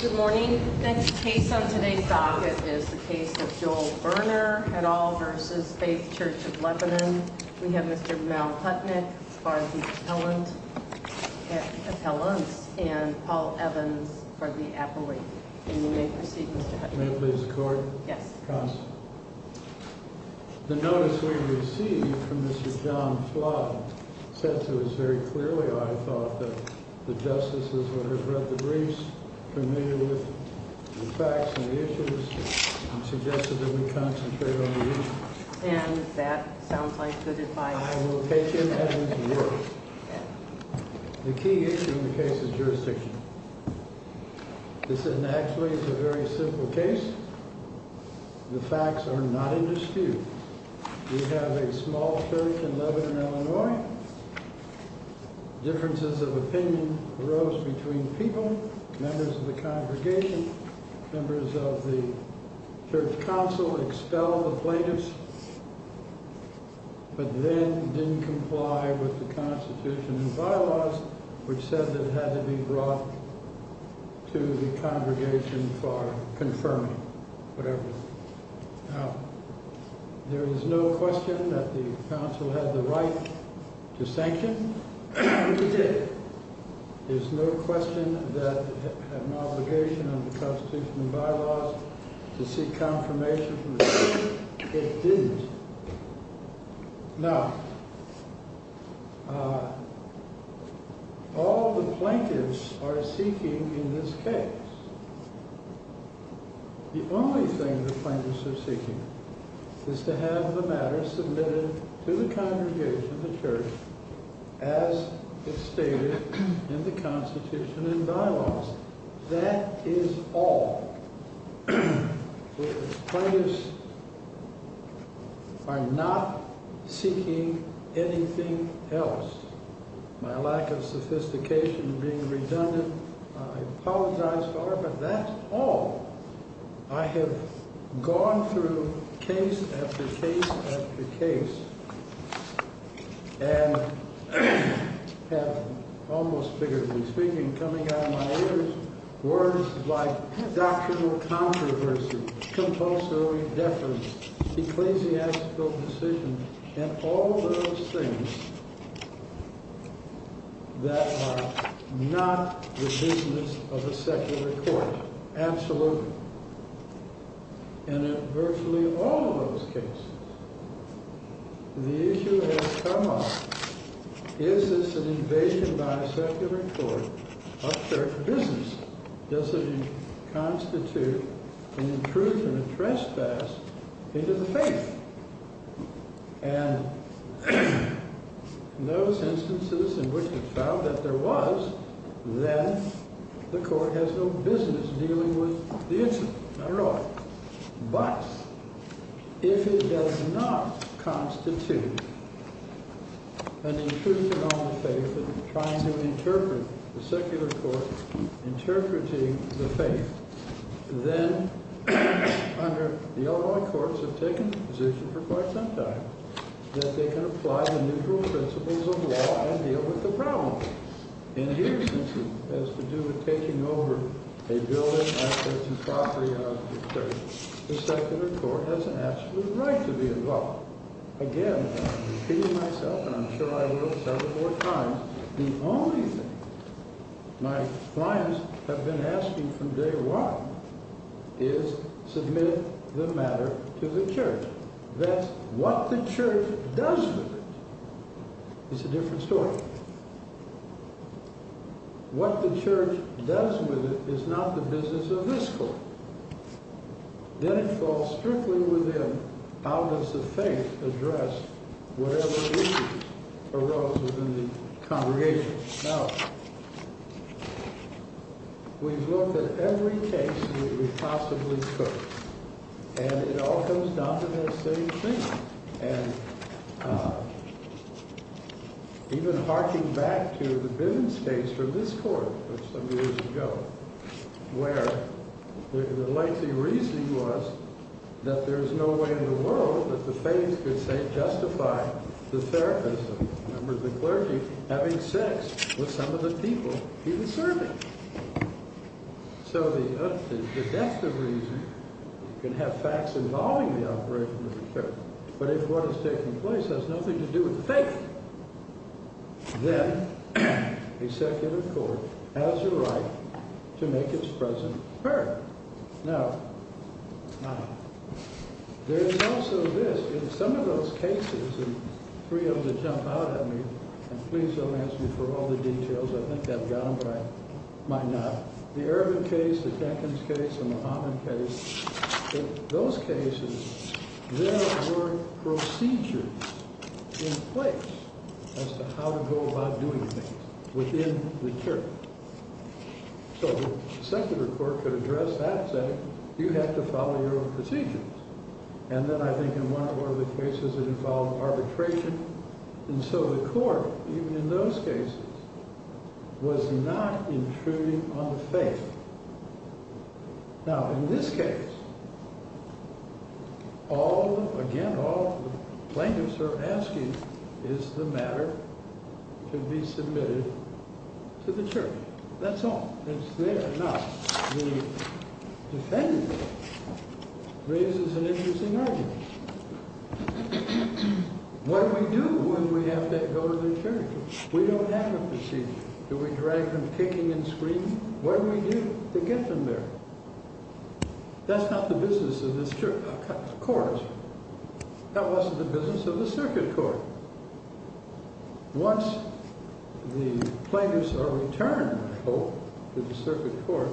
Good morning. The case on today's docket is the case of Joel Berner et al. v. Faith Church of Lebanon. We have Mr. Mal Putnick for the appellant and Paul Evans for the appellate. And you may proceed, Mr. Putnick. May I please record? Yes. The notice we received from Mr. John Flott said to us very clearly, I thought, that the justices would have read the briefs, familiar with the facts and the issues, and suggested that we concentrate on the issue. And that sounds like good advice. I will take him at his word. The key issue in the case is jurisdiction. This is actually a very simple case. The facts are not indisputable. We have a small church in Lebanon, Illinois. Differences of opinion arose between people, members of the congregation, members of the church council, expelled the plaintiffs. But then didn't comply with the Constitution and bylaws, which said that it had to be brought to the congregation for confirming, whatever. Now, there is no question that the council had the right to sanction. It did. There's no question that it had an obligation under the Constitution and bylaws to seek confirmation from the church. It didn't. Now, all the plaintiffs are seeking in this case. The only thing the plaintiffs are seeking is to have the matter submitted to the congregation, the church, as it stated in the Constitution and bylaws. That is all. The plaintiffs are not seeking anything else. My lack of sophistication being redundant. I apologize, but that's all. I have gone through case after case after case and have almost figuratively speaking, coming out of my ears, words like doctrinal controversy, compulsory deference, ecclesiastical decisions, and all those things that are not the business of a secular court. Absolutely. And in virtually all of those cases, the issue has come up, is this an invasion by a secular court of church business? Does it constitute an intrusion, a trespass into the faith? And in those instances in which it's found that there was, then the court has no business dealing with the incident at all. But if it does not constitute an intrusion on the faith and trying to interpret the secular court interpreting the faith, then under the Illinois courts have taken the position for quite some time that they can apply the neutral principles of law and deal with the problem. In here, since it has to do with taking over a building, assets, and property out of the church, the secular court has an absolute right to be involved. Again, I've repeated myself, and I'm sure I will several more times. The only thing my clients have been asking from day one is submit the matter to the church. That's what the church does with it. It's a different story. What the church does with it is not the business of this court. Then it falls strictly within how does the faith address whatever issues arose within the congregation. Now, we've looked at every case that we possibly could, and it all comes down to that same thing. Even harking back to the Bivens case from this court some years ago, where the lengthy reason was that there is no way in the world that the faith could justify the therapist, the clergy, having sex with some of the people he was serving. So the depth of reason can have facts involving the operation of the church. But if what is taking place has nothing to do with the faith, then the secular court has a right to make its presence heard. Now, there is also this. In some of those cases, and for you to jump out at me, and please don't ask me for all the details. I think I've got them, but I might not. The Ervin case, the Jenkins case, the Muhammad case, in those cases, there were procedures in place as to how to go about doing things within the church. So the secular court could address that and say, you have to follow your own procedures. And then I think in one or more of the cases it involved arbitration. And so the court, even in those cases, was not intruding on the faith. Now, in this case, again, all the plaintiffs are asking is the matter to be submitted to the church. That's all. It's there. Now, the defendant raises an interesting argument. What do we do when we have to go to the church? We don't have a procedure. Do we drag them kicking and screaming? What do we do to get them there? That's not the business of this court. That wasn't the business of the circuit court. Once the plaintiffs are returned, I hope, to the circuit court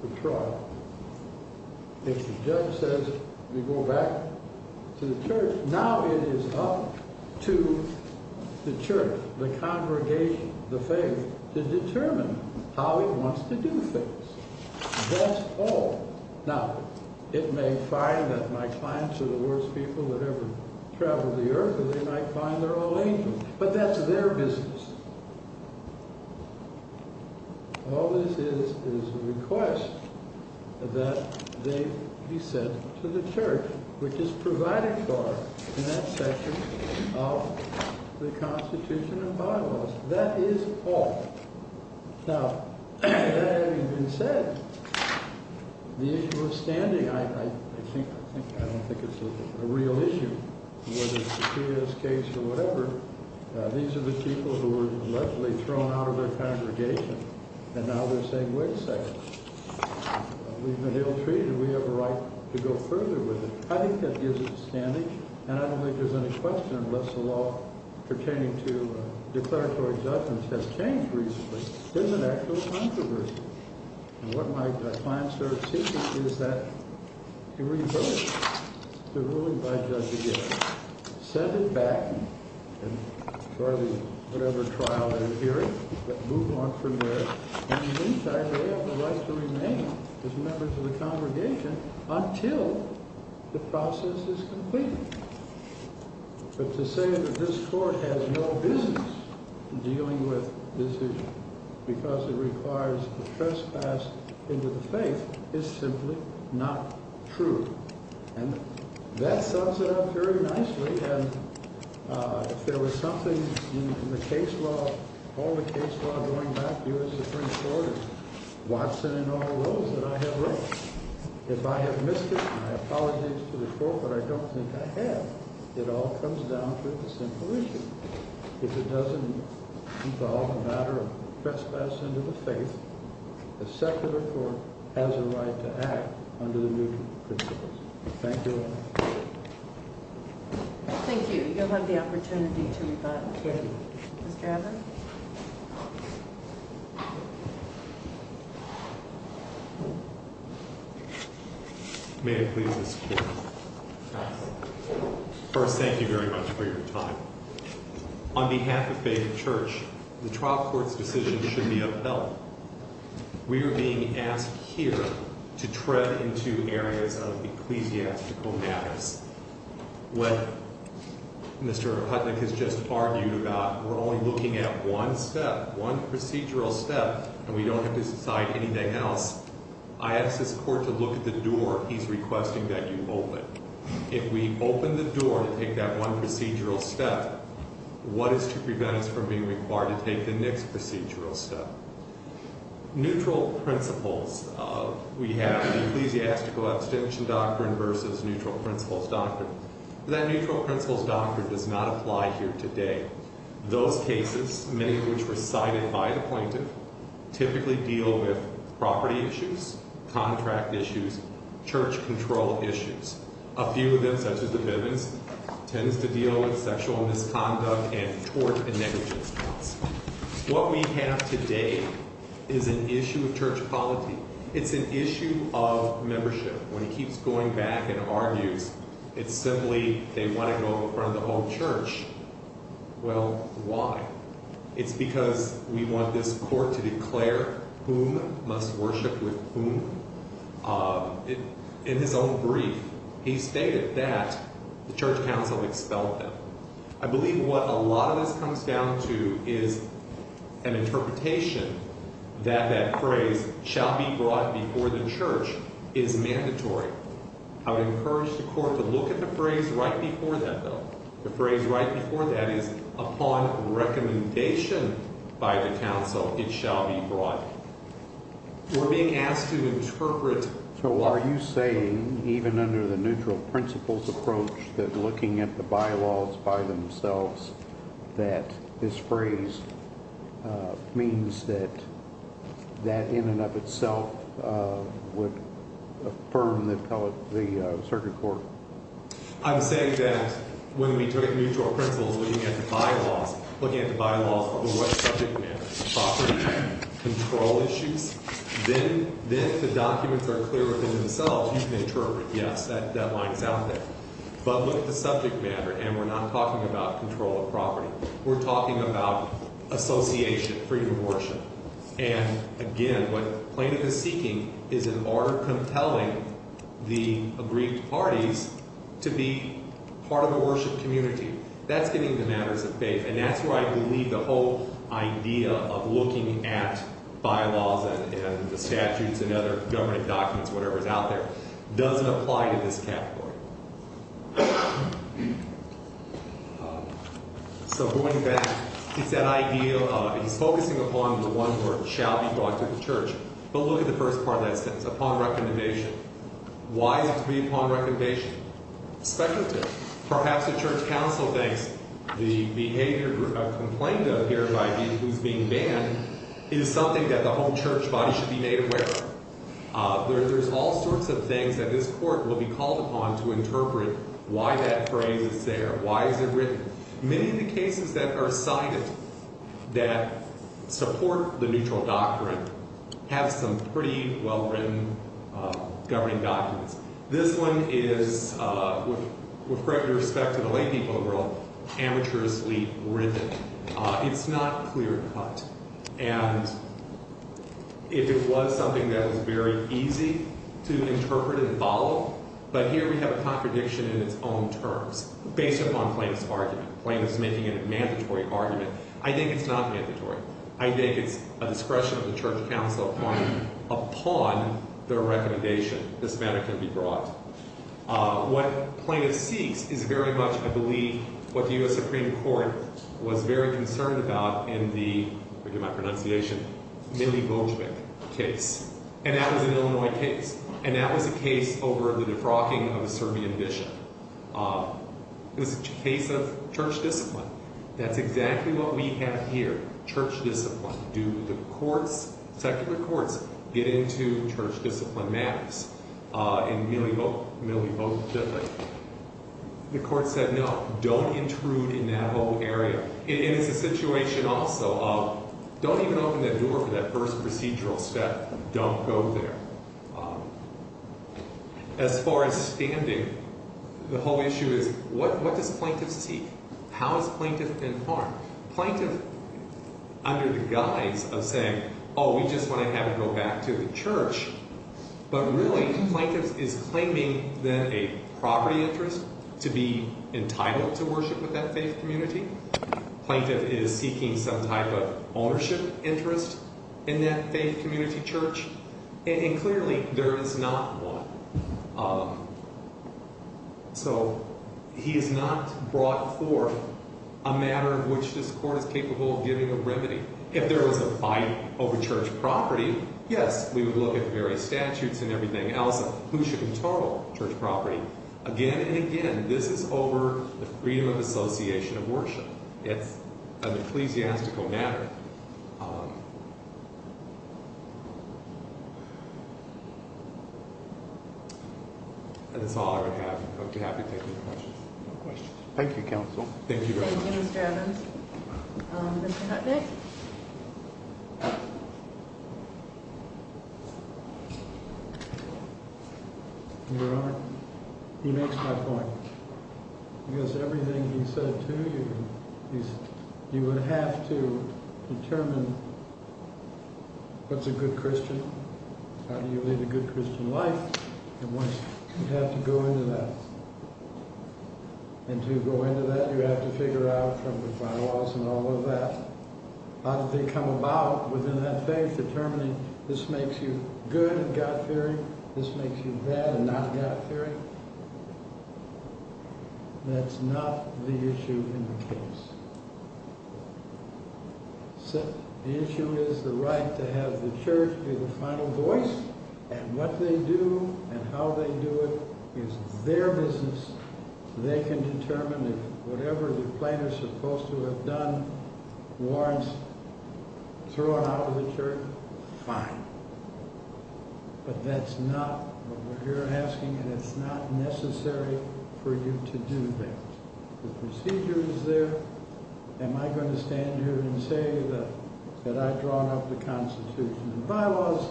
for trial, if the judge says we go back to the church, now it is up to the church, the congregation, the faith, to determine how it wants to do things. That's all. Now, it may find that my clients are the worst people that ever traveled the earth, or they might find they're all angels. But that's their business. All this is is a request that they be sent to the church, which is provided for in that section of the Constitution and bylaws. That is all. Now, that having been said, the issue of standing, I don't think it's a real issue, whether it's a serious case or whatever. These are the people who were allegedly thrown out of their congregation, and now they're saying, wait a second. We've been ill-treated. We have a right to go further with it. I think that gives us standing, and I don't think there's any question unless the law pertaining to declaratory judgments has changed recently. There's an actual controversy. And what my clients are seeking is that you revoke the ruling by Judge Aguilar, send it back, and Charlie, whatever trial you're hearing, move on from there. And in the meantime, they have the right to remain as members of the congregation until the process is completed. But to say that this court has no business dealing with this issue because it requires a trespass into the faith is simply not true. And that sums it up very nicely. And if there was something in the case law, all the case law going back to U.S. Supreme Court and Watson and all those that I have written, if I have missed it, I apologize to the court, but I don't think I have. It all comes down to the simple issue. If it doesn't involve a matter of trespass into the faith, the secular court has a right to act under the new principles. Thank you all. Thank you. You'll have the opportunity to rebut. Mr. Allen? May it please this court. First, thank you very much for your time. On behalf of Faith Church, the trial court's decision should be upheld. We are being asked here to tread into areas of ecclesiastical matters. What Mr. Hutnick has just argued about, we're only looking at one step, one procedural step, and we don't have to decide anything else. I ask this court to look at the door he's requesting that you open. If we open the door to take that one procedural step, what is to prevent us from being required to take the next procedural step? Neutral principles. We have the ecclesiastical abstention doctrine versus neutral principles doctrine. That neutral principles doctrine does not apply here today. Those cases, many of which were cited by the plaintiff, typically deal with property issues, contract issues, church control issues. A few of them, such as the Bivens, tends to deal with sexual misconduct and tort and negligence. What we have today is an issue of church polity. It's an issue of membership. When he keeps going back and argues, it's simply they want to go in front of the whole church. Well, why? It's because we want this court to declare whom must worship with whom. In his own brief, he stated that the church council expelled him. I believe what a lot of this comes down to is an interpretation that that phrase, shall be brought before the church, is mandatory. I would encourage the court to look at the phrase right before that, though. The phrase right before that is, upon recommendation by the council, it shall be brought. We're being asked to interpret. So are you saying, even under the neutral principles approach, that looking at the bylaws by themselves, that this phrase means that that in and of itself would affirm the circuit court? I'm saying that when we took neutral principles, looking at the bylaws, looking at the bylaws over what subject matter, property, control issues, then the documents are clearer than themselves. You can interpret, yes, that line is out there. But look at the subject matter, and we're not talking about control of property. We're talking about association, freedom of worship. And again, what Plaintiff is seeking is an order compelling the aggrieved parties to be part of the worship community. That's getting to matters of faith, and that's where I believe the whole idea of looking at bylaws and the statutes and other government documents, whatever is out there, doesn't apply to this category. So going back, he said ideal, he's focusing upon the one where it shall be brought to the church. But look at the first part of that sentence, upon recommendation. Why is it to be upon recommendation? Speculative. Perhaps the church council thinks the behavior of Complainant here, who's being banned, is something that the whole church body should be made aware of. There's all sorts of things that this Court will be called upon to interpret why that phrase is there, why is it written. Many of the cases that are cited that support the neutral doctrine have some pretty well-written governing documents. This one is, with great respect to the lay people of the world, amateurishly written. It's not clear cut. And if it was something that was very easy to interpret and follow, but here we have a contradiction in its own terms, based upon Plaintiff's argument. Plaintiff's making a mandatory argument. I think it's not mandatory. I think it's a discretion of the church council upon their recommendation this matter can be brought. What Plaintiff seeks is very much, I believe, what the U.S. Supreme Court was very concerned about in the, forgive my pronunciation, Milivojvic case. And that was an Illinois case. And that was a case over the defrocking of a Serbian bishop. It was a case of church discipline. That's exactly what we have here. Church discipline. Do the courts, secular courts, get into church discipline matters in Milivojvic? The court said no. Don't intrude in that whole area. And it's a situation also of don't even open that door for that first procedural step. Don't go there. As far as standing, the whole issue is what does Plaintiff seek? How is Plaintiff in harm? Plaintiff, under the guise of saying, oh, we just want to have him go back to the church. But really, Plaintiff is claiming that a property interest to be entitled to worship with that faith community. Plaintiff is seeking some type of ownership interest in that faith community church. And clearly, there is not one. So, he has not brought forth a matter of which this court is capable of giving a remedy. If there was a fight over church property, yes, we would look at various statutes and everything else. Who should control church property? Again and again, this is over the freedom of association of worship. It's an ecclesiastical matter. And it's all I have. I'd be happy to take any questions. No questions. Thank you, Counsel. Thank you very much. Thank you, Mr. Evans. Mr. Hutnick? Your Honor, he makes my point. Because everything he said to you, you would have to determine what's a good Christian. How do you lead a good Christian life? You have to go into that. And to go into that, you have to figure out from the files and all of that, how did they come about within that faith, determining this makes you good and God-fearing, this makes you bad and not God-fearing. That's not the issue in the case. The issue is the right to have the church be the final voice. And what they do and how they do it is their business. They can determine that whatever the plaintiff is supposed to have done warrants thrown out of the church. Fine. But that's not what we're here asking, and it's not necessary for you to do that. The procedure is there. Am I going to stand here and say that I've drawn up the Constitution and bylaws?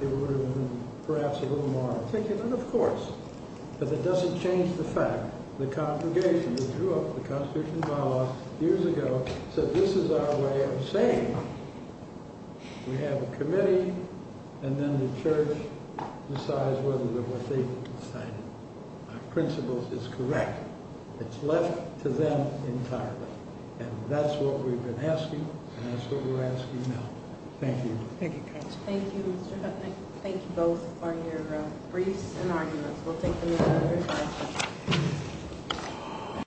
It would have been perhaps a little more articulate, of course. But that doesn't change the fact. The congregation that drew up the Constitution and bylaws years ago said this is our way of saying we have a committee, and then the church decides whether we're faithful. Our principle is correct. It's left to them entirely. And that's what we've been asking, and that's what we're asking now. Thank you. Thank you, Counselor. Thank you, Mr. Kupnick. Thank you both for your briefs and arguments. We'll take them in order.